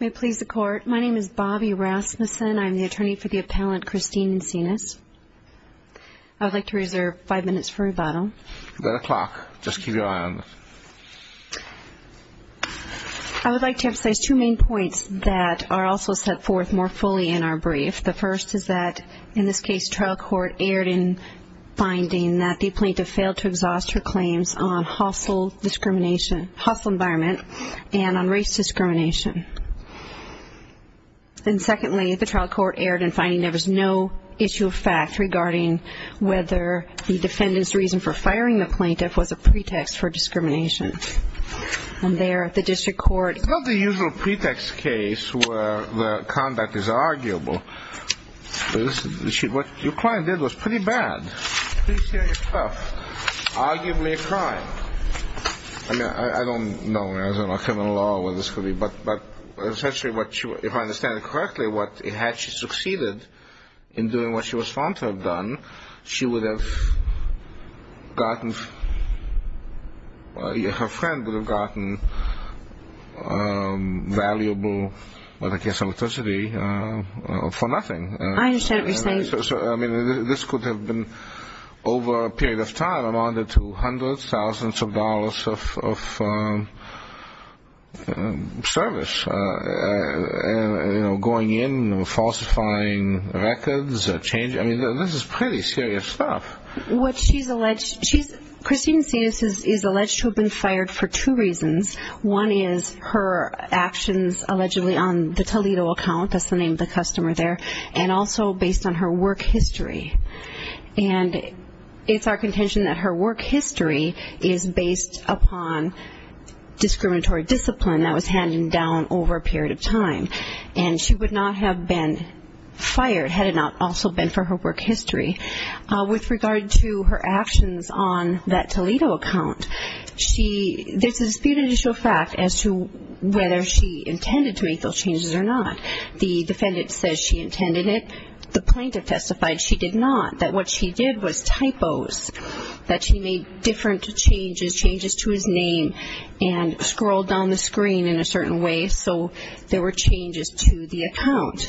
May it please the court, my name is Bobbi Rasmussen, I'm the attorney for the appellant Christine Encinas. I would like to reserve 5 minutes for rebuttal. That's a clock, just keep your eye on it. I would like to emphasize two main points that are also set forth more fully in our brief. The first is that in this case trial court erred in finding that the plaintiff failed to exhaust her claims on hostile environment and on race discrimination. And secondly, the trial court erred in finding there was no issue of fact regarding whether the defendant's reason for firing the plaintiff was a pretext for discrimination. It's not the usual pretext case where the conduct is arguable. What your client did was pretty bad, pretty serious stuff, arguably a crime. I mean I don't know, I don't know criminal law or what this could be, but essentially if I understand it correctly, had she succeeded in doing what she was found to have done, she would have gotten, you know, her friend would have gotten valuable, I guess, electricity for nothing. I understand what you're saying. I mean this could have been over a period of time amounted to hundreds, thousands of dollars of service, you know, going in and falsifying records, changing, I mean this is pretty serious stuff. Well, what she's alleged, Christine Sinus is alleged to have been fired for two reasons. One is her actions allegedly on the Toledo account, that's the name of the customer there, and also based on her work history. And it's our contention that her work history is based upon discriminatory discipline that was handed down over a period of time. And she would not have been fired had it not also been for her work history. In regard to her actions on that Toledo account, she, there's a disputed issue of fact as to whether she intended to make those changes or not. The defendant says she intended it, the plaintiff testified she did not, that what she did was typos, that she made different changes, changes to his name and scrolled down the screen in a certain way so there were changes to the account.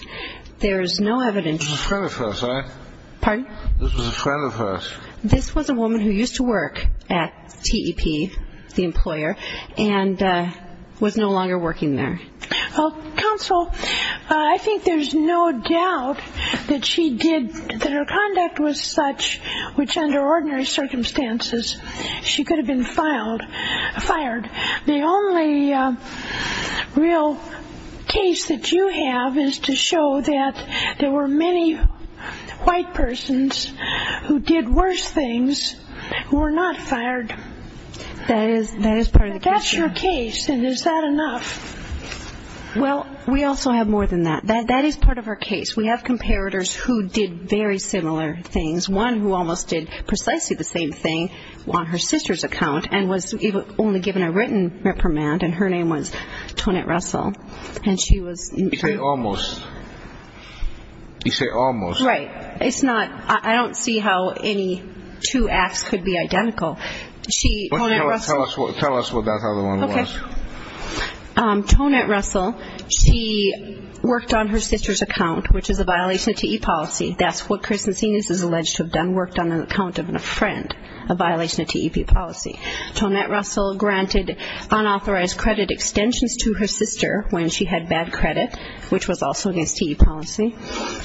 There's no evidence. This was a friend of hers, right? Pardon? This was a friend of hers. This was a woman who used to work at TEP, the employer, and was no longer working there. Well, counsel, I think there's no doubt that she did, that her conduct was such which under ordinary circumstances she could have been filed, fired. The only real case that you have is to show that there were many white persons who did worse things who were not fired. That is part of the question. But that's your case and is that enough? Well, we also have more than that. That is part of our case. We have comparators who did very similar things. One who almost did precisely the same thing on her sister's account and was only given a written reprimand and her name was Tonette Russell and she was You say almost. You say almost. Right. It's not, I don't see how any two acts could be identical. Tell us what that other one was. Okay. Tonette Russell, she worked on her sister's account, which is a violation of TEP policy. That's what Chris Macenas is alleged to have done, worked on the account of a friend, a violation of TEP policy. Tonette Russell granted unauthorized credit extensions to her sister when she had bad credit, which was also against TEP policy.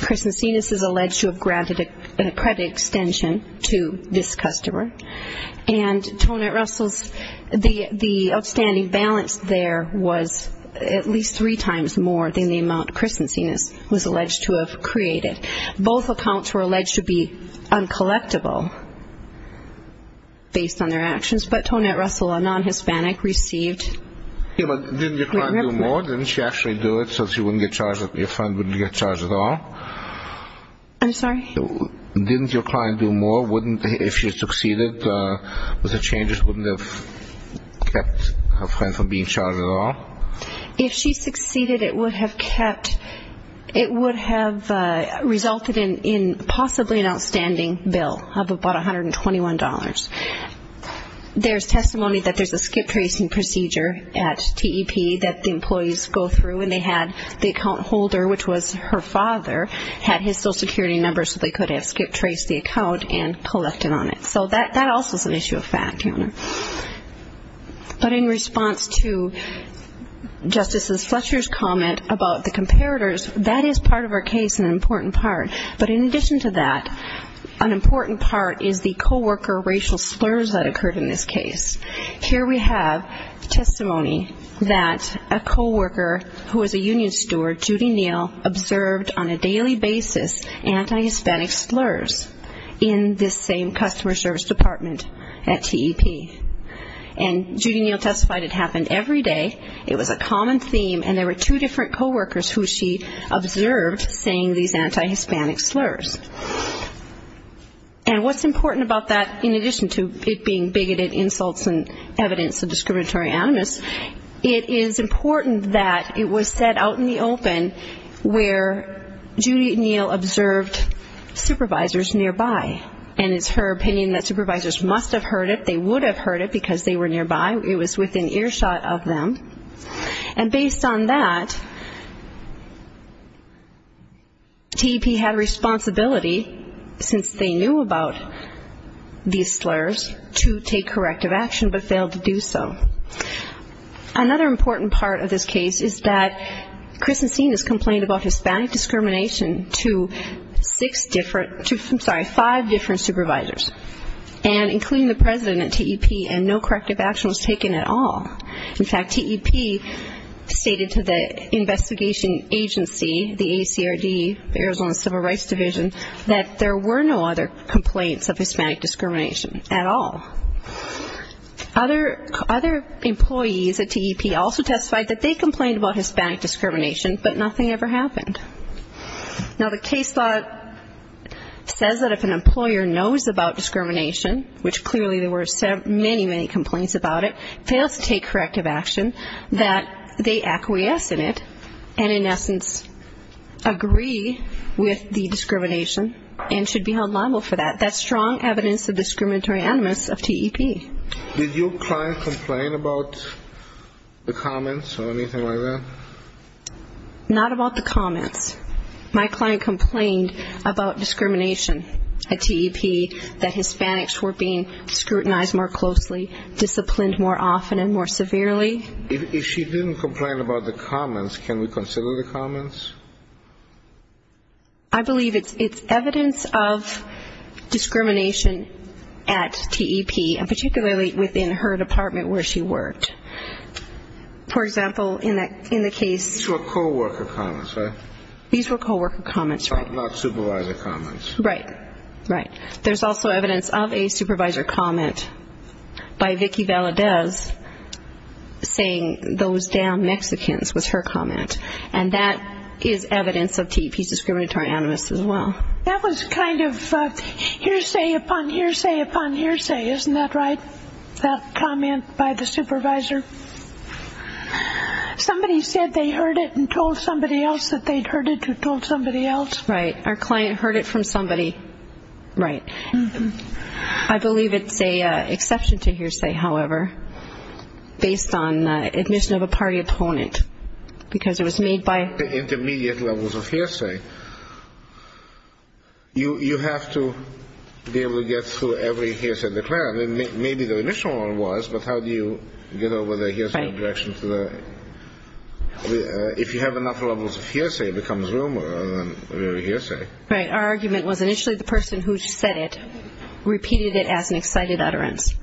Chris Macenas is alleged to have granted a credit extension to this customer. And Tonette Russell's, the outstanding balance there was at least three times more than the amount Chris Macenas was alleged to have created. Both accounts were alleged to be uncollectible based on their actions, but Tonette Russell, a non-Hispanic, received Didn't your client do more? Didn't she actually do it so she wouldn't get charged, your friend wouldn't get charged at all? I'm sorry? Didn't your client do more? Wouldn't, if she succeeded with the changes, wouldn't have kept her friend from being charged at all? If she succeeded, it would have kept, it would have resulted in possibly an outstanding bill of about $121. There's testimony that there's a skip-tracing procedure at TEP that the employees go through, and they had the account holder, which was her father, had his social security number so they could have skip-traced the account and collected on it. So that also is an issue of fact. But in response to Justices Fletcher's comment about the comparators, that is part of our case, an important part. But in addition to that, an important part is the co-worker racial slurs that occurred in this case. Here we have testimony that a co-worker who was a union steward, Judy Neal, observed on a daily basis anti-Hispanic slurs in this same customer service department at TEP. And Judy Neal testified it happened every day. It was a common theme, and there were two different co-workers who she observed saying these anti-Hispanic slurs. And what's important about that, in addition to it being bigoted insults and evidence of discriminatory animus, it is important that it was said out in the open where Judy Neal observed supervisors nearby. And it's her opinion that supervisors must have heard it. They would have heard it because they were nearby. It was within earshot of them. And based on that, TEP had a responsibility, since they knew about these slurs, to take corrective action, but failed to do so. Another important part of this case is that Kristen Steen has complained about Hispanic discrimination to five different supervisors, including the president at TEP, and no corrective action was taken at all. In fact, TEP stated to the investigation agency, the ACRD, Arizona Civil Rights Division, that there were no other complaints of Hispanic discrimination at all. Other employees at TEP also testified that they complained about Hispanic discrimination, but nothing ever happened. Now, the case law says that if an employer knows about discrimination, which clearly there were many, many complaints about it, fails to take corrective action, that they acquiesce in it and, in essence, agree with the discrimination and should be held liable for that, that's strong evidence of discriminatory animus of TEP. Did your client complain about the comments or anything like that? Not about the comments. My client complained about discrimination at TEP, that Hispanics were being scrutinized more closely, disciplined more often and more severely. If she didn't complain about the comments, can we consider the comments? I believe it's evidence of discrimination at TEP, and particularly within her department where she worked. For example, in the case... These were co-worker comments, right? These were co-worker comments, right. Not supervisor comments. Right, right. There's also evidence of a supervisor comment by Vicky Valadez saying those damn Mexicans was her comment, and that is evidence of TEP's discriminatory animus as well. That was kind of hearsay upon hearsay upon hearsay, isn't that right? That comment by the supervisor. Somebody said they heard it and told somebody else that they'd heard it who told somebody else. Right, our client heard it from somebody. Right. I believe it's an exception to hearsay, however, based on admission of a party opponent, because it was made by... The intermediate levels of hearsay. You have to be able to get through every hearsay declared. Maybe the initial one was, but how do you get over the hearsay objection to the... If you have enough levels of hearsay, it becomes rumor rather than hearsay. Right, our argument was initially the person who said it repeated it as an excited utterance,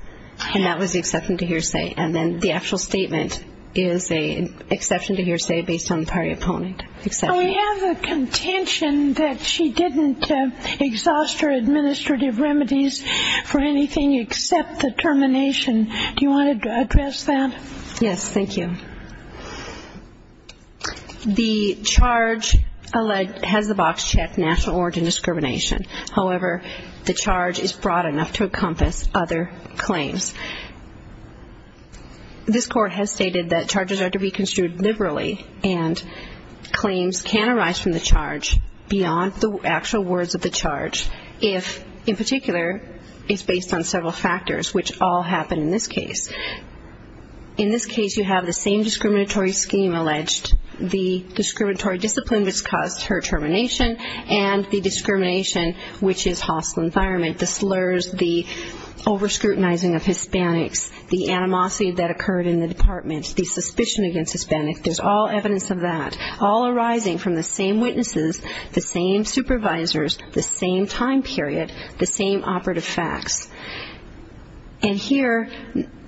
and that was the exception to hearsay. And then the actual statement is an exception to hearsay based on the party opponent. We have the contention that she didn't exhaust her administrative remedies for anything except the termination. Do you want to address that? Yes, thank you. The charge has the box checked, national origin discrimination. However, the charge is broad enough to encompass other claims. This court has stated that charges are to be construed liberally and claims can arise from the charge beyond the actual words of the charge if, in particular, it's based on several factors, which all happen in this case. In this case, you have the same discriminatory scheme alleged, the discriminatory discipline which caused her termination, and the discrimination which is hostile environment, the slurs, the over-scrutinizing of Hispanics, the animosity that occurred in the department, the suspicion against Hispanics. There's all evidence of that, all arising from the same witnesses, the same supervisors, the same time period, the same operative facts. And here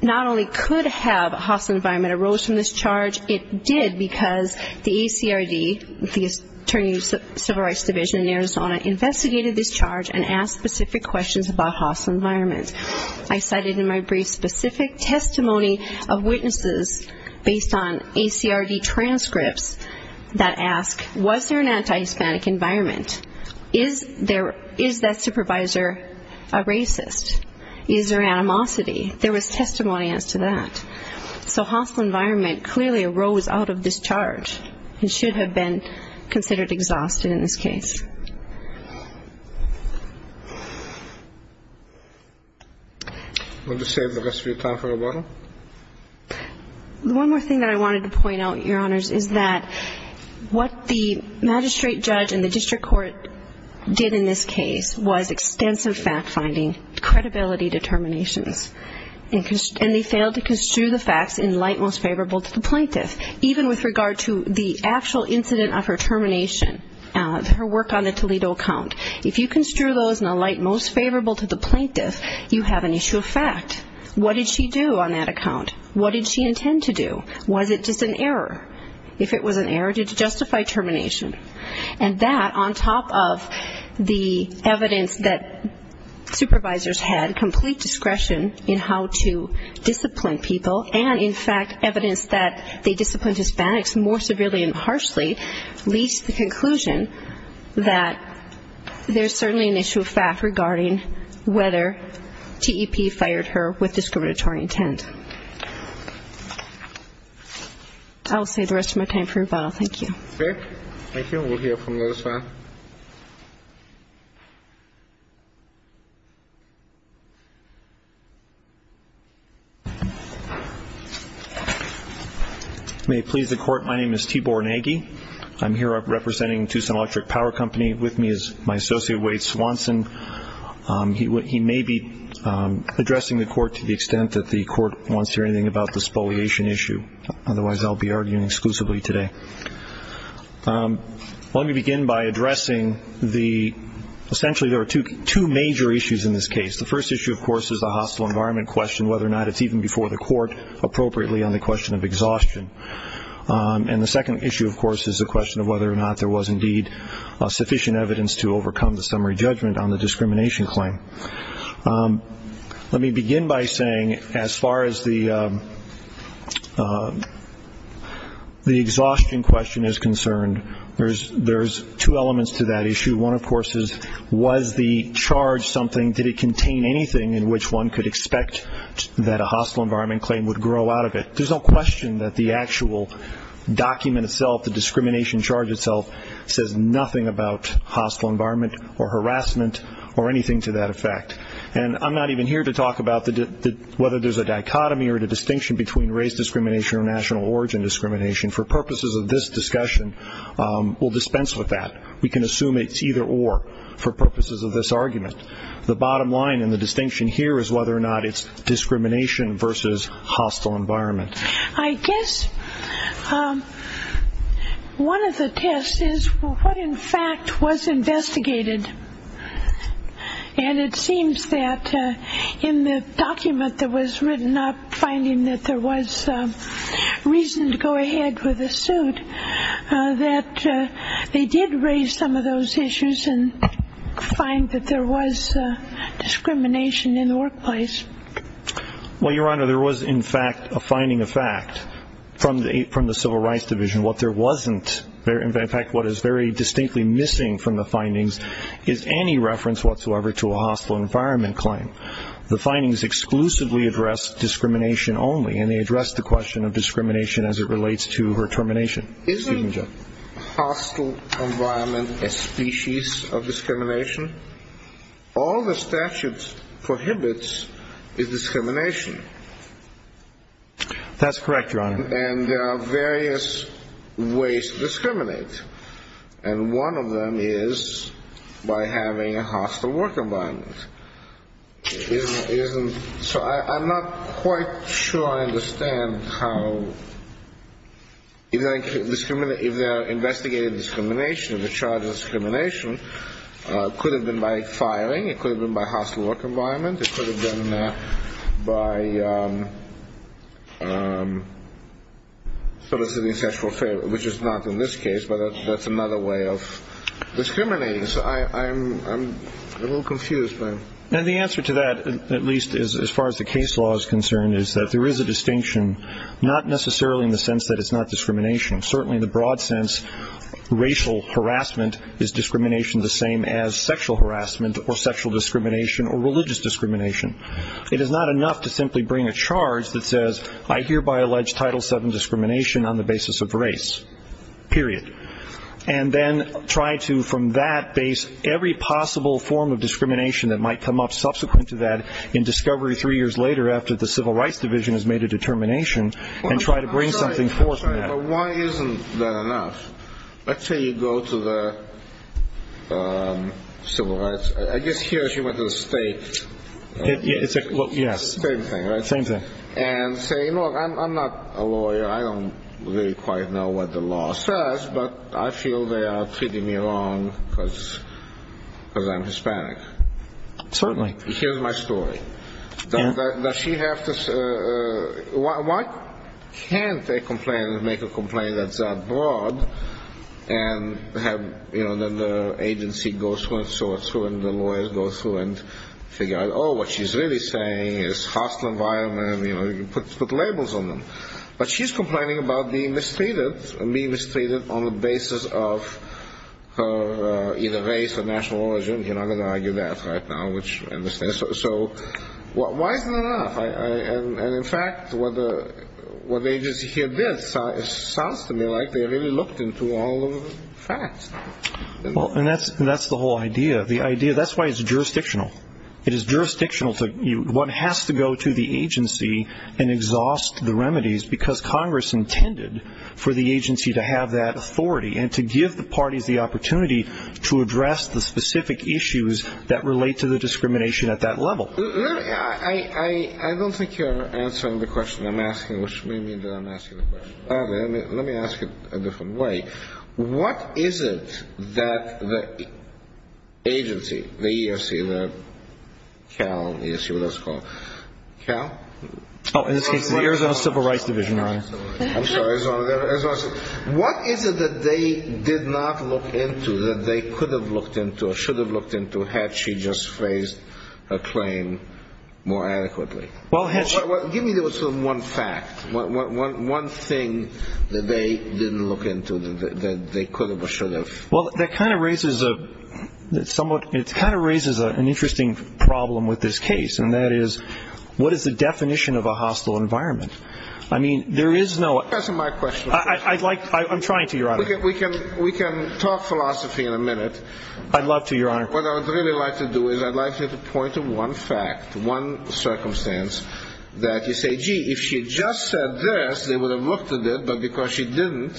not only could have a hostile environment arose from this charge, it did because the ACRD, the Attorney's Civil Rights Division in Arizona, investigated this charge and asked specific questions about hostile environment. I cited in my brief specific testimony of witnesses based on ACRD transcripts that ask, was there an anti-Hispanic environment? Is that supervisor a racist? Is there animosity? There was testimony as to that. So hostile environment clearly arose out of this charge and should have been considered exhausted in this case. Would you save the rest of your time for rebuttal? The one more thing that I wanted to point out, Your Honors, is that what the magistrate judge and the district court did in this case was extensive fact-finding, credibility determinations, and they failed to construe the facts in light most favorable to the plaintiff, even with regard to the actual incident of her termination, her work on the Toledo account. If you construe those in a light most favorable to the plaintiff, you have an issue of fact. What did she do on that account? What did she intend to do? Was it just an error? If it was an error, did it justify termination? And that on top of the evidence that supervisors had complete discretion in how to discipline people and, in fact, evidence that they disciplined Hispanics more severely and harshly, leads to the conclusion that there's certainly an issue of fact regarding whether TEP fired her with discriminatory intent. I will save the rest of my time for rebuttal. Thank you. Thank you. We'll hear from the other side. May it please the Court, my name is Tibor Nagy. I'm here representing Tucson Electric Power Company. With me is my associate, Wade Swanson. He may be addressing the Court to the extent that the Court wants to hear anything about the spoliation issue. Otherwise, I'll be arguing exclusively today. Let me begin by addressing the essentially there are two major issues in this case. The first issue, of course, is the hostile environment question, whether or not it's even before the Court appropriately on the question of exhaustion. And the second issue, of course, is the question of whether or not there was indeed sufficient evidence to overcome the summary judgment on the discrimination claim. Let me begin by saying as far as the exhaustion question is concerned, there's two elements to that issue. One, of course, is was the charge something, did it contain anything in which one could expect that a hostile environment claim would grow out of it? There's no question that the actual document itself, the discrimination charge itself, says nothing about hostile environment or harassment or anything to that effect. And I'm not even here to talk about whether there's a dichotomy or a distinction between race discrimination or national origin discrimination. For purposes of this discussion, we'll dispense with that. We can assume it's either or for purposes of this argument. The bottom line and the distinction here is whether or not it's discrimination versus hostile environment. I guess one of the tests is what, in fact, was investigated. And it seems that in the document that was written up finding that there was reason to go ahead with the suit, that they did raise some of those issues and find that there was discrimination in the workplace. Well, Your Honor, there was, in fact, a finding of fact from the Civil Rights Division. What there wasn't, in fact, what is very distinctly missing from the findings, is any reference whatsoever to a hostile environment claim. The findings exclusively address discrimination only, and they address the question of discrimination as it relates to her termination. Isn't hostile environment a species of discrimination? All the statute prohibits is discrimination. That's correct, Your Honor. And there are various ways to discriminate. And one of them is by having a hostile work environment. So I'm not quite sure I understand how, if they're investigating discrimination, the charges of discrimination, it could have been by firing, it could have been by hostile work environment, it could have been by soliciting sexual favor, which is not in this case, but that's another way of discriminating. I'm a little confused by it. And the answer to that, at least as far as the case law is concerned, is that there is a distinction, not necessarily in the sense that it's not discrimination. Certainly in the broad sense, racial harassment is discrimination the same as sexual harassment or sexual discrimination or religious discrimination. It is not enough to simply bring a charge that says, I hereby allege Title VII discrimination on the basis of race, period. And then try to, from that base, every possible form of discrimination that might come up subsequent to that in discovery three years later after the Civil Rights Division has made a determination and try to bring something forth from that. But why isn't that enough? Let's say you go to the Civil Rights, I guess here she went to the state. Yes. Same thing, right? Same thing. And say, you know, I'm not a lawyer. I don't really quite know what the law says, but I feel they are treating me wrong because I'm Hispanic. Certainly. Here's my story. Why can't a complainant make a complaint that's that broad and have the agency go through and sort through and the lawyers go through and figure out, oh, what she's really saying is hostile environment, you know, put labels on them. But she's complaining about being mistreated and being mistreated on the basis of either race or national origin. You're not going to argue that right now, which I understand. So why isn't that enough? And, in fact, what the agency here did, it sounds to me like they really looked into all the facts. Well, and that's the whole idea. The idea, that's why it's jurisdictional. It is jurisdictional. One has to go to the agency and exhaust the remedies because Congress intended for the agency to have that authority and to give the parties the opportunity to address the specific issues that relate to the discrimination at that level. I don't think you're answering the question I'm asking, which may mean that I'm asking the question. Let me ask it a different way. What is it that the agency, the EEOC, the CAL, EEOC, what is it called, CAL? Oh, in this case, the Arizona Civil Rights Division, Your Honor. I'm sorry, Arizona Civil Rights Division. What is it that they did not look into that they could have looked into or should have looked into had she just phrased her claim more adequately? Give me one fact, one thing that they didn't look into that they could have or should have. Well, that kind of raises an interesting problem with this case, and that is what is the definition of a hostile environment? Answer my question. I'm trying to, Your Honor. We can talk philosophy in a minute. I'd love to, Your Honor. What I would really like to do is I'd like you to point to one fact, one circumstance that you say, gee, if she had just said this, they would have looked at it, but because she didn't,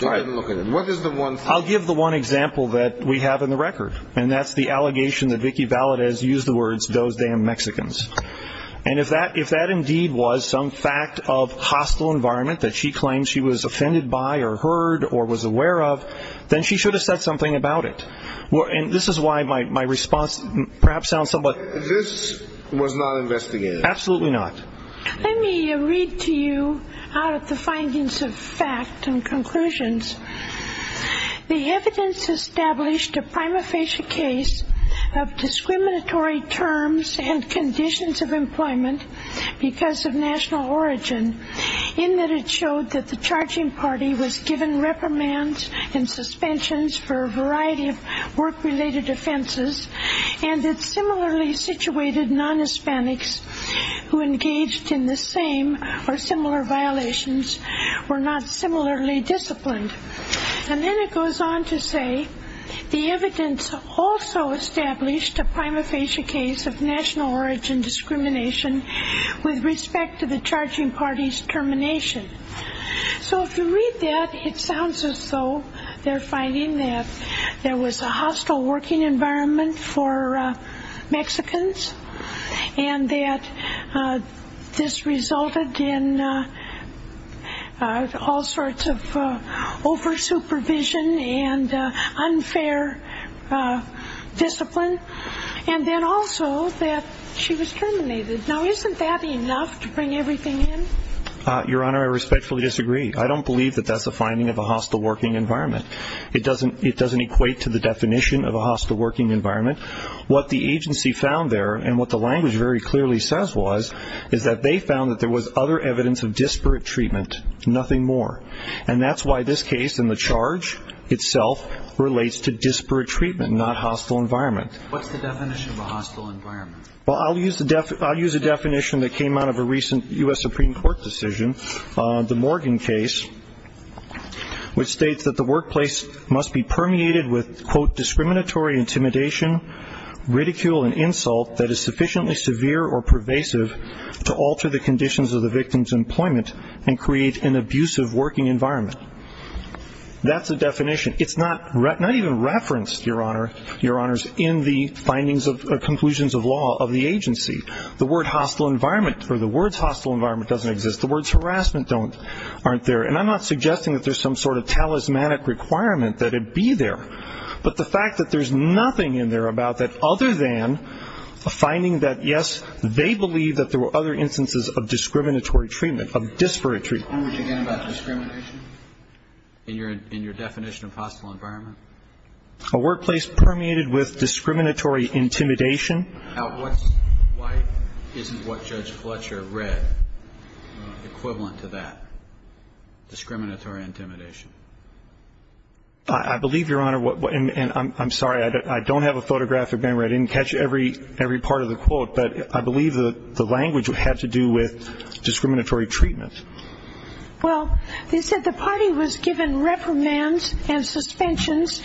they didn't look at it. What is the one thing? I'll give the one example that we have in the record, and that's the allegation that Vicky Valadez used the words, those damn Mexicans. And if that indeed was some fact of hostile environment that she claimed she was offended by or heard or was aware of, then she should have said something about it. And this is why my response perhaps sounds somewhat. This was not investigated. Absolutely not. Let me read to you out of the findings of fact and conclusions. The evidence established a prima facie case of discriminatory terms and conditions of employment because of national origin in that it showed that the charging party was given reprimands and suspensions for a variety of work-related offenses and that similarly situated non-Hispanics who engaged in the same or similar violations were not similarly disciplined. And then it goes on to say the evidence also established a prima facie case of national origin discrimination with respect to the charging party's termination. So if you read that, it sounds as though they're finding that there was a hostile working environment for Mexicans and that this resulted in all sorts of over-supervision and unfair discipline. And then also that she was terminated. Now, isn't that enough to bring everything in? Your Honor, I respectfully disagree. I don't believe that that's a finding of a hostile working environment. It doesn't equate to the definition of a hostile working environment. What the agency found there and what the language very clearly says was is that they found that there was other evidence of disparate treatment, nothing more. And that's why this case and the charge itself relates to disparate treatment, not hostile environment. What's the definition of a hostile environment? Well, I'll use a definition that came out of a recent U.S. Supreme Court decision, the Morgan case, which states that the workplace must be permeated with, quote, discriminatory intimidation, ridicule and insult that is sufficiently severe or pervasive to alter the conditions of the victim's employment and create an abusive working environment. That's the definition. It's not even referenced, Your Honor, Your Honors, in the findings of conclusions of law of the agency. The word hostile environment or the words hostile environment doesn't exist. The words harassment don't, aren't there. And I'm not suggesting that there's some sort of talismanic requirement that it be there. But the fact that there's nothing in there about that other than a finding that, yes, they believe that there were other instances of discriminatory treatment, of disparate treatment. What language again about discrimination in your definition of hostile environment? A workplace permeated with discriminatory intimidation. Why isn't what Judge Fletcher read equivalent to that, discriminatory intimidation? I believe, Your Honor, and I'm sorry, I don't have a photographic memory. I didn't catch every part of the quote. But I believe the language had to do with discriminatory treatment. Well, they said the party was given reprimands and suspensions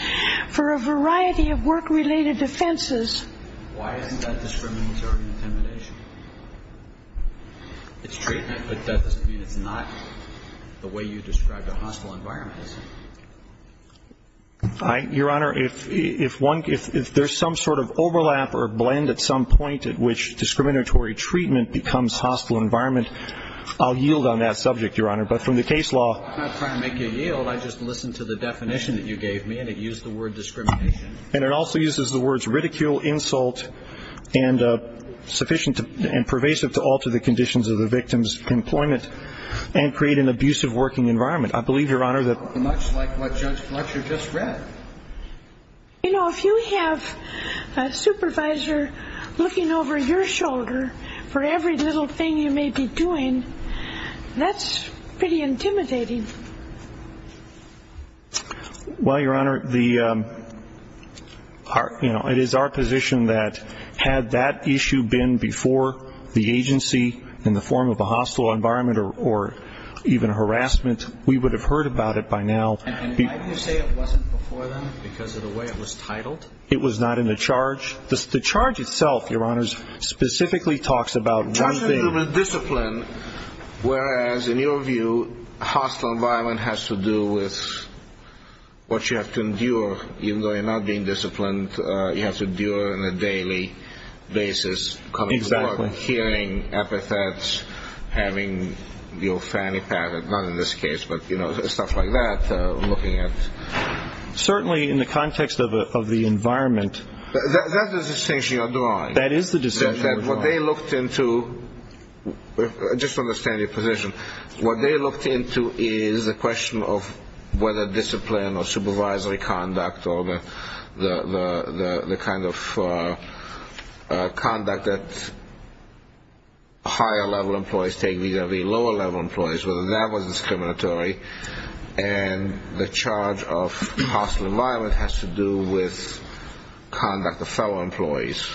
for a variety of work-related offenses. Why isn't that discriminatory intimidation? It's treatment, but that doesn't mean it's not the way you described a hostile environment, does it? Your Honor, if there's some sort of overlap or blend at some point at which discriminatory treatment becomes hostile environment, I'll yield on that subject, Your Honor. But from the case law ‑‑ I'm not trying to make you yield. I just listened to the definition that you gave me, and it used the word discrimination. And it also uses the words ridicule, insult, and sufficient and pervasive to alter the conditions of the victim's employment and create an abusive working environment. I believe, Your Honor, that Much like what Judge Fletcher just read. You know, if you have a supervisor looking over your shoulder for every little thing you may be doing, that's pretty intimidating. Well, Your Honor, it is our position that had that issue been before the agency in the form of a hostile environment or even harassment, we would have heard about it by now. And why do you say it wasn't before then? Because of the way it was titled? It was not in the charge. The charge itself, Your Honor, specifically talks about one thing. It talks about human discipline, whereas in your view, hostile environment has to do with what you have to endure. Even though you're not being disciplined, you have to endure on a daily basis. Exactly. Hearing epithets, having your fanny pack, not in this case, but, you know, stuff like that, looking at Certainly in the context of the environment That's the distinction you're drawing. That is the distinction you're drawing. What they looked into, just to understand your position, What they looked into is a question of whether discipline or supervisory conduct or the kind of conduct that higher-level employees take vis-a-vis lower-level employees, whether that was discriminatory. And the charge of hostile environment has to do with conduct of fellow employees.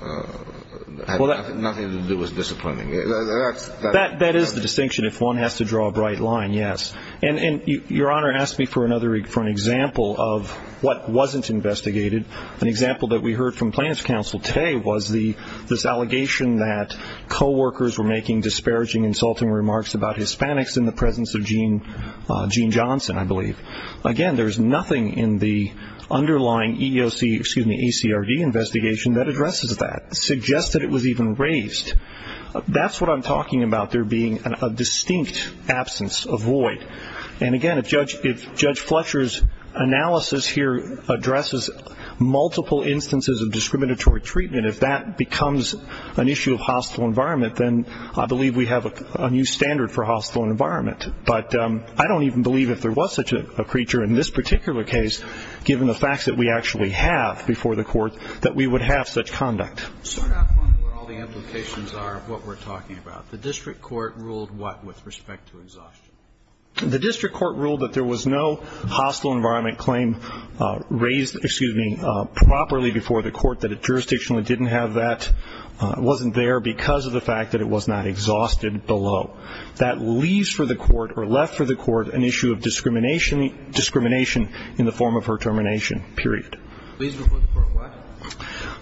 Nothing to do with disciplining. That is the distinction, if one has to draw a bright line, yes. And Your Honor asked me for an example of what wasn't investigated. An example that we heard from plaintiff's counsel today was this allegation that coworkers were making disparaging, insulting remarks about Hispanics in the presence of Gene Johnson, I believe. Again, there's nothing in the underlying EEOC, excuse me, ACRD investigation that addresses that, suggests that it was even raised. That's what I'm talking about, there being a distinct absence, a void. And again, if Judge Fletcher's analysis here addresses multiple instances of discriminatory treatment, if that becomes an issue of hostile environment, then I believe we have a new standard for hostile environment. But I don't even believe if there was such a creature in this particular case, given the facts that we actually have before the court, that we would have such conduct. Start off on what all the implications are of what we're talking about. The district court ruled what with respect to exhaustion? The district court ruled that there was no hostile environment claim raised, excuse me, properly before the court, that it jurisdictionally didn't have that, wasn't there because of the fact that it was not exhausted below. That leaves for the court or left for the court an issue of discrimination in the form of her termination, period. Leaves before the court what?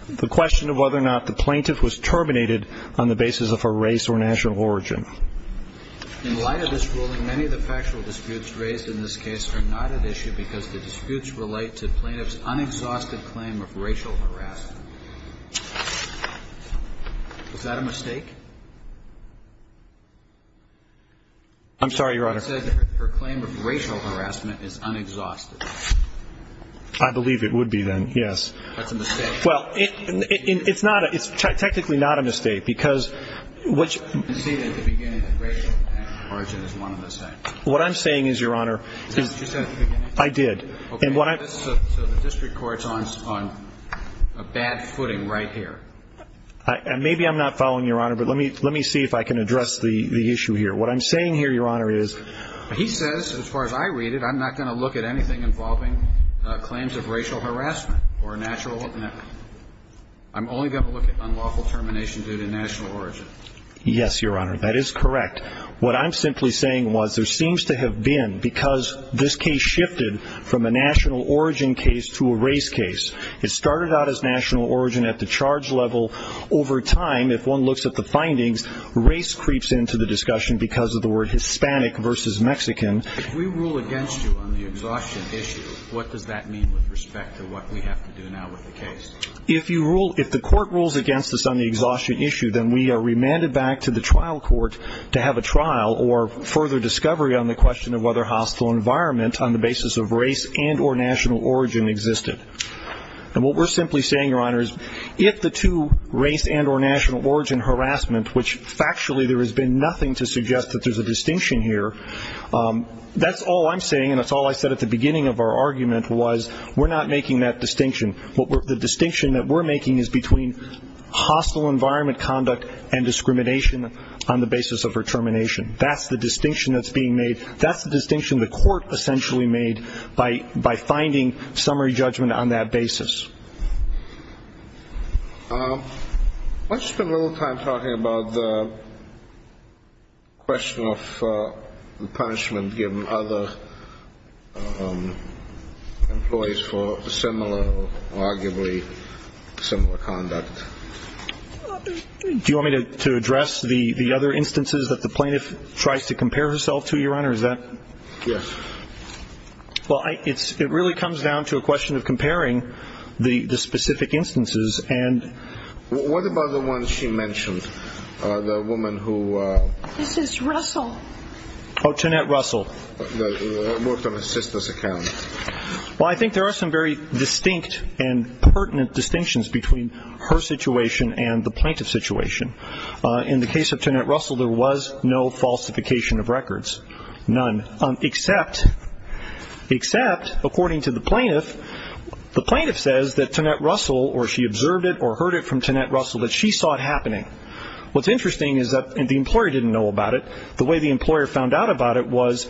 The question of whether or not the plaintiff was terminated on the basis of her race or national origin. In light of this ruling, many of the factual disputes raised in this case are not at issue because the disputes relate to plaintiff's unexhausted claim of racial harassment. Was that a mistake? I'm sorry, Your Honor. I said that her claim of racial harassment is unexhausted. I believe it would be then, yes. That's a mistake. Well, it's technically not a mistake because what I'm saying is, Your Honor, I did. So the district court's on a bad footing right here. Maybe I'm not following, Your Honor, but let me see if I can address the issue here. What I'm saying here, Your Honor, is he says, as far as I read it, I'm not going to look at anything involving claims of racial harassment or a natural, I'm only going to look at unlawful termination due to national origin. Yes, Your Honor, that is correct. What I'm simply saying was there seems to have been, because this case shifted from a national origin case to a race case, it started out as national origin at the charge level. Over time, if one looks at the findings, race creeps into the discussion because of the word Hispanic versus Mexican. If we rule against you on the exhaustion issue, what does that mean with respect to what we have to do now with the case? If you rule, if the court rules against us on the exhaustion issue, then we are remanded back to the trial court to have a trial or further discovery on the question of whether hostile environment on the basis of race and or national origin existed. And what we're simply saying, Your Honor, is if the two, race and or national origin harassment, which factually there has been nothing to suggest that there's a distinction here, that's all I'm saying and that's all I said at the beginning of our argument was we're not making that distinction. The distinction that we're making is between hostile environment conduct and discrimination on the basis of her termination. That's the distinction that's being made. That's the distinction the court essentially made by finding summary judgment on that basis. Let's spend a little time talking about the question of punishment given other employees for similar or arguably similar conduct. Do you want me to address the other instances that the plaintiff tries to compare herself to, Your Honor? Is that? Yes. Well, it really comes down to a question of comparing the specific instances and. What about the one she mentioned, the woman who. This is Russell. Oh, Tonette Russell. The mortal assistance account. Well, I think there are some very distinct and pertinent distinctions between her situation and the plaintiff's situation. In the case of Tonette Russell, there was no falsification of records, none, except according to the plaintiff, the plaintiff says that Tonette Russell, or she observed it or heard it from Tonette Russell that she saw it happening. What's interesting is that the employer didn't know about it. The way the employer found out about it was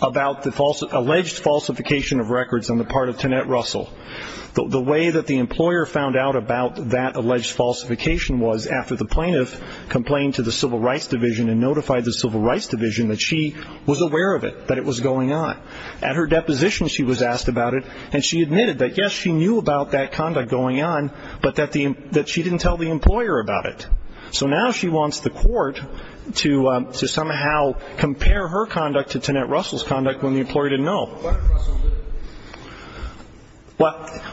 about the alleged falsification of records on the part of Tonette Russell. The way that the employer found out about that alleged falsification was after the plaintiff complained to the Civil Rights Division and notified the Civil Rights Division that she was aware of it, that it was going on. At her deposition, she was asked about it, and she admitted that, yes, she knew about that conduct going on, but that she didn't tell the employer about it. So now she wants the court to somehow compare her conduct to Tonette Russell's conduct when the employer didn't know. What did Russell do?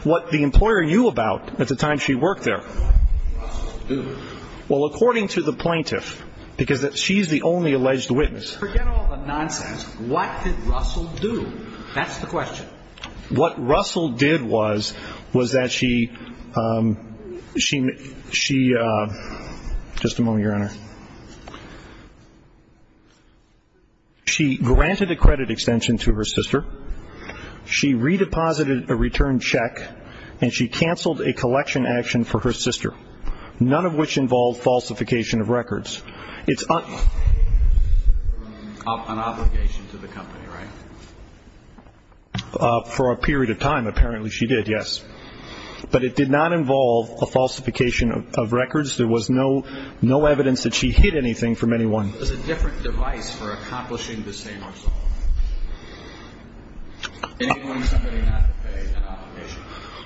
What the employer knew about at the time she worked there. What did Russell do? Well, according to the plaintiff, because she's the only alleged witness. Forget all the nonsense. What did Russell do? That's the question. What Russell did was, was that she, she, she, just a moment, Your Honor. She granted a credit extension to her sister. She redeposited a return check, and she canceled a collection action for her sister, none of which involved falsification of records. It's un- An obligation to the company, right? For a period of time, apparently she did, yes. But it did not involve a falsification of records. There was no evidence that she hid anything from anyone. It was a different device for accomplishing the same result. Anyone, somebody not to pay an obligation.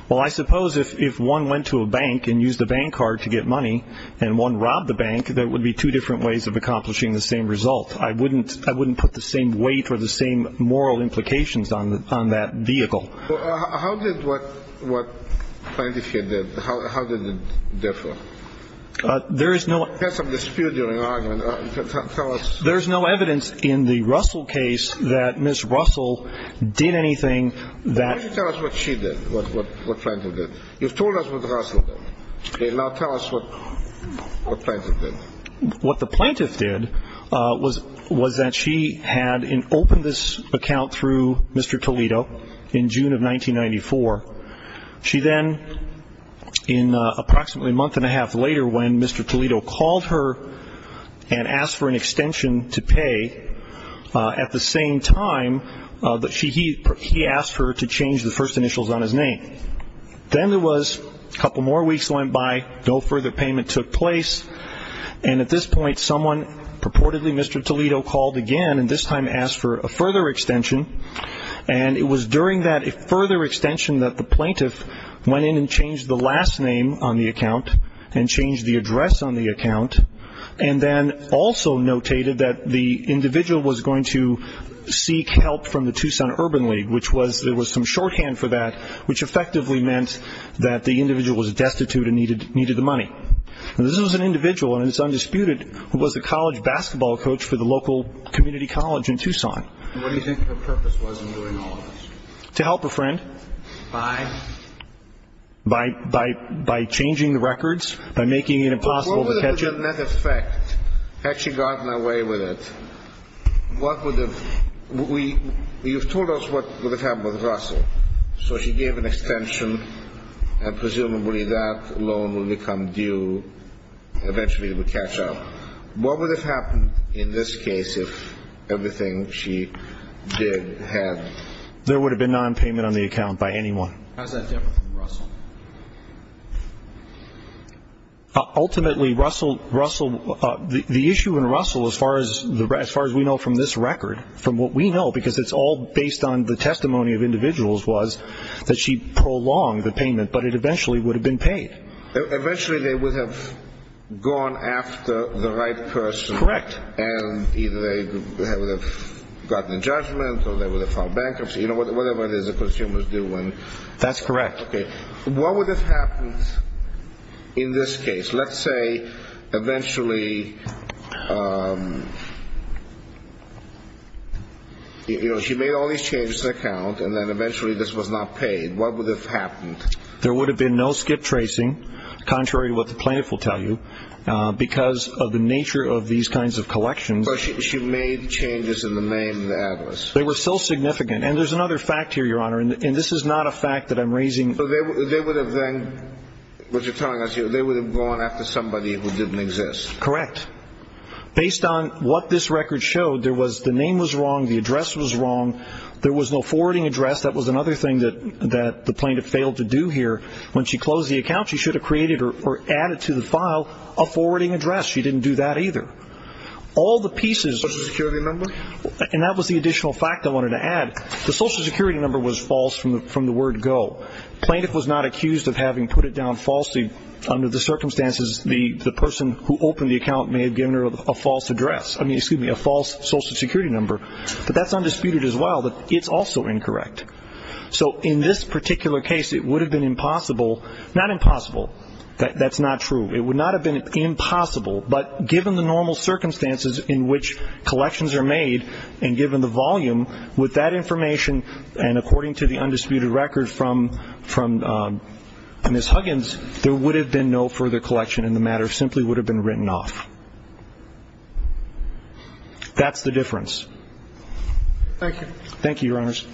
Well, I suppose if one went to a bank and used a bank card to get money, and one robbed the bank, there would be two different ways of accomplishing the same result. I wouldn't, I wouldn't put the same weight or the same moral implications on that vehicle. How did what, what plaintiff here did, how did it differ? There is no- You had some dispute during the argument. Tell us- There's no evidence in the Russell case that Ms. Russell did anything that- Why don't you tell us what she did, what plaintiff did. You've told us what Russell did. Now tell us what plaintiff did. What the plaintiff did was that she had opened this account through Mr. Toledo in June of 1994. She then, in approximately a month and a half later when Mr. Toledo called her and asked for an extension to pay at the same time that she, he, he asked her to change the first initials on his name. Then there was a couple more weeks went by, no further payment took place, and at this point someone purportedly, Mr. Toledo called again and this time asked for a further extension, and it was during that further extension that the plaintiff went in and changed the last name on the account and changed the address on the account, and then also notated that the individual was going to seek help from the Tucson Urban League, which was, there was some shorthand for that, which effectively meant that the individual was destitute and needed the money. Now this was an individual, and it's undisputed, who was a college basketball coach for the local community college in Tucson. What do you think the purpose was in doing all of this? To help a friend. By? By, by, by changing the records, by making it impossible to catch up. What would have been the net effect had she gotten away with it? What would have, we, you've told us what would have happened with Russell, so she gave an extension and presumably that loan would become due, eventually it would catch up. What would have happened in this case if everything she did had? There would have been nonpayment on the account by anyone. How's that different from Russell? Ultimately, Russell, the issue in Russell, as far as we know from this record, from what we know, because it's all based on the testimony of individuals, was that she prolonged the payment, but it eventually would have been paid. Eventually they would have gone after the right person. Correct. And either they would have gotten a judgment or they would have filed bankruptcy, whatever it is the consumer is doing. That's correct. Okay. What would have happened in this case? Let's say eventually she made all these changes to the account and then eventually this was not paid. What would have happened? There would have been no skip tracing, contrary to what the plaintiff will tell you, because of the nature of these kinds of collections. But she made changes in the name and the address. They were still significant. And there's another fact here, Your Honor, and this is not a fact that I'm raising. So they would have then, what you're telling us, they would have gone after somebody who didn't exist. Correct. Based on what this record showed, the name was wrong, the address was wrong, there was no forwarding address. That was another thing that the plaintiff failed to do here. When she closed the account, she should have created or added to the file a forwarding address. She didn't do that either. Social Security number? And that was the additional fact I wanted to add. The Social Security number was false from the word go. The plaintiff was not accused of having put it down falsely under the circumstances the person who opened the account may have given her a false address, I mean, excuse me, a false Social Security number. But that's undisputed as well that it's also incorrect. So in this particular case, it would have been impossible, not impossible, that's not true, it would not have been impossible, but given the normal circumstances in which collections are made and given the volume with that information and according to the undisputed record from Ms. Huggins, there would have been no further collection and the matter simply would have been written off. That's the difference. Thank you. Thank you, Your Honors.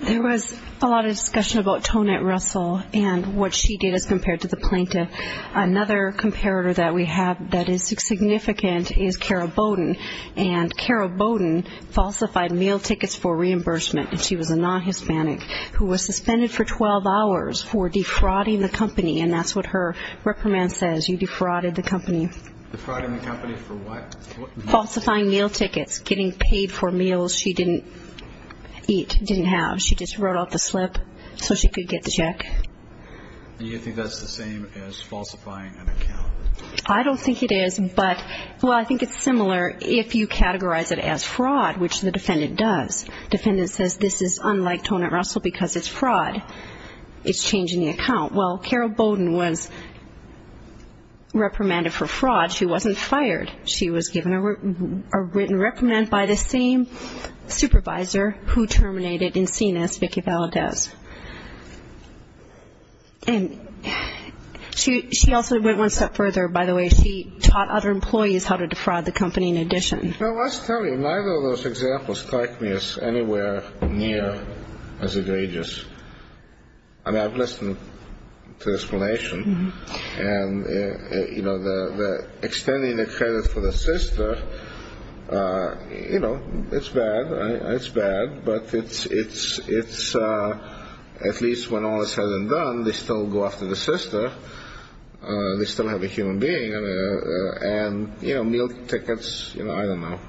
There was a lot of discussion about Tonette Russell and what she did as compared to the plaintiff. Another comparator that we have that is significant is Kara Bowden, and Kara Bowden falsified meal tickets for reimbursement, and she was a non-Hispanic who was suspended for 12 hours for defrauding the company, and that's what her reprimand says, you defrauded the company. Defrauding the company for what? Falsifying meal tickets, getting paid for meals she didn't eat, didn't have. She just wrote off the slip so she could get the check. Do you think that's the same as falsifying an account? I don't think it is, but, well, I think it's similar. If you categorize it as fraud, which the defendant does, defendant says this is unlike Tonette Russell because it's fraud, it's changing the account. Well, Kara Bowden was reprimanded for fraud. She wasn't fired. She was given a written reprimand by the same supervisor who terminated Encinas, Vicki Valadez. And she also went one step further, by the way. She taught other employees how to defraud the company in addition. Well, let's tell you, neither of those examples strike me as anywhere near as egregious. I mean, I've listened to the explanation, and, you know, extending the credit for the sister, you know, it's bad, right? It's bad, but it's at least when all is said and done, they still go after the sister. They still have a human being. And, you know, meal tickets, you know, I don't know.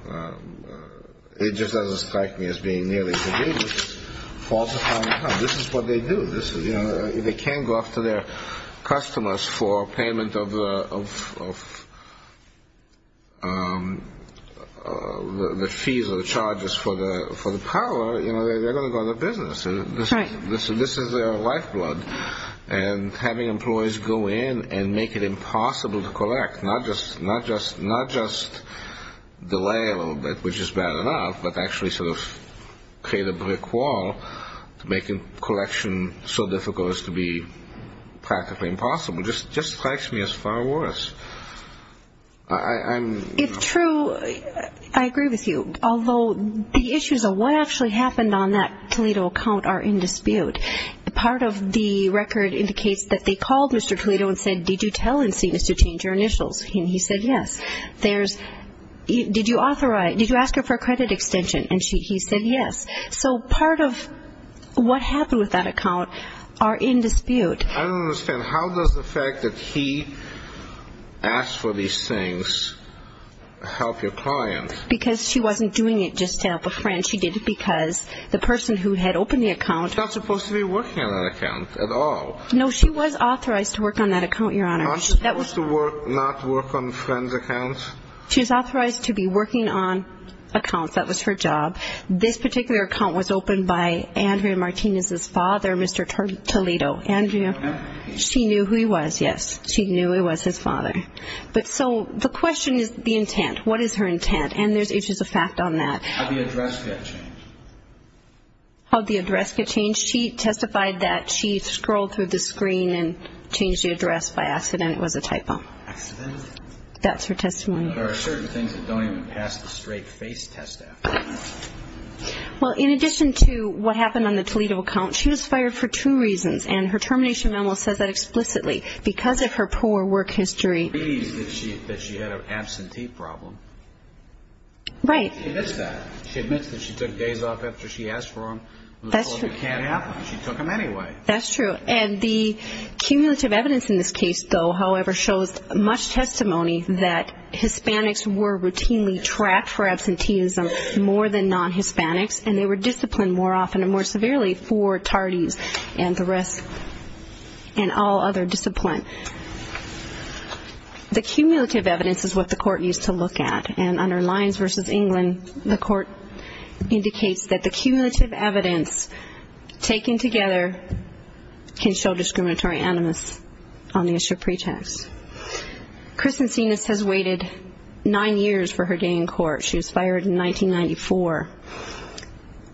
It just doesn't strike me as being nearly as egregious. This is what they do. If they can't go after their customers for payment of the fees or the charges for the parlor, you know, they're going to go into business. This is their lifeblood. And having employees go in and make it impossible to collect, not just delay a little bit, which is bad enough, but actually sort of create a brick wall to make a collection so difficult as to be practically impossible, just strikes me as far worse. It's true. I agree with you. Although the issues of what actually happened on that Toledo account are in dispute. Part of the record indicates that they called Mr. Toledo and said, did you tell NC to change your initials? And he said yes. Did you ask her for a credit extension? And he said yes. So part of what happened with that account are in dispute. I don't understand. How does the fact that he asked for these things help your client? Because she wasn't doing it just to help a friend. She did it because the person who had opened the account. She's not supposed to be working on that account at all. No, she was authorized to work on that account, Your Honor. She's not supposed to not work on friends' accounts? She's authorized to be working on accounts. That was her job. This particular account was opened by Andrea Martinez's father, Mr. Toledo. Andrea, she knew who he was, yes. She knew it was his father. But so the question is the intent. What is her intent? And there's issues of fact on that. How did the address get changed? How did the address get changed? She testified that she scrolled through the screen and changed the address by accident. It was a typo. Accident? That's her testimony. There are certain things that don't even pass the straight face test. Well, in addition to what happened on the Toledo account, she was fired for two reasons. And her termination memo says that explicitly. Because of her poor work history. She agrees that she had an absentee problem. Right. She admits that. She took days off after she asked for them. That's true. She took them anyway. That's true. And the cumulative evidence in this case, though, however, shows much testimony that Hispanics were routinely tracked for absenteeism more than non-Hispanics. And they were disciplined more often and more severely for tardies and the rest and all other discipline. The cumulative evidence is what the court used to look at. And under Lyons v. England, the court indicates that the cumulative evidence taken together can show discriminatory animus on the issue of pretext. Kristen Sinas has waited nine years for her day in court. She was fired in 1994.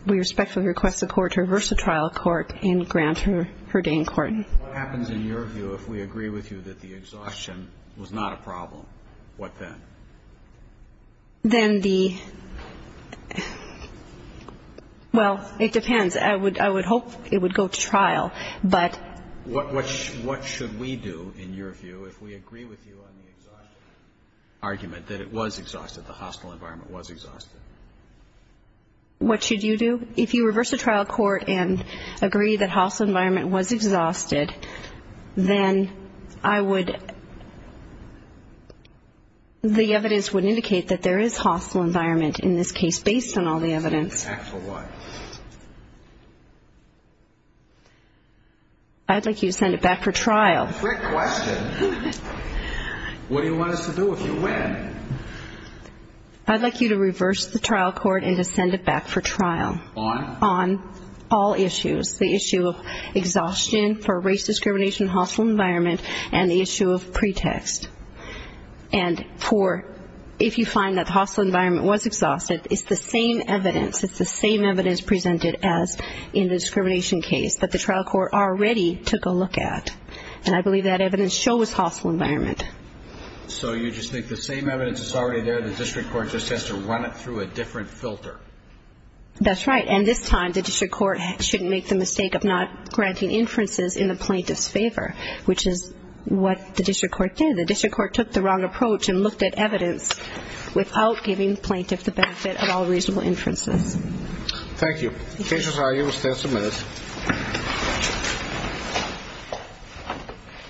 We respectfully request the court to reverse the trial of the court and grant her her day in court. What happens in your view if we agree with you that the exhaustion was not a problem? What then? Then the – well, it depends. I would hope it would go to trial, but – What should we do in your view if we agree with you on the argument that it was exhausted, the hostile environment was exhausted? What should you do? If you reverse the trial court and agree that hostile environment was exhausted, then I would – the evidence would indicate that there is hostile environment in this case based on all the evidence. For what? I'd like you to send it back for trial. Quick question. What do you want us to do if you win? I'd like you to reverse the trial court and to send it back for trial. On? On all issues, the issue of exhaustion for race discrimination, hostile environment, and the issue of pretext. And for – if you find that the hostile environment was exhausted, it's the same evidence. It's the same evidence presented as in the discrimination case, but the trial court already took a look at. And I believe that evidence shows hostile environment. So you just think the same evidence is already there. The district court just has to run it through a different filter. That's right. And this time the district court shouldn't make the mistake of not granting inferences in the plaintiff's favor, which is what the district court did. The district court took the wrong approach and looked at evidence without giving the plaintiff the benefit of all reasonable inferences. Thank you. Case is argued. We'll stand some minutes.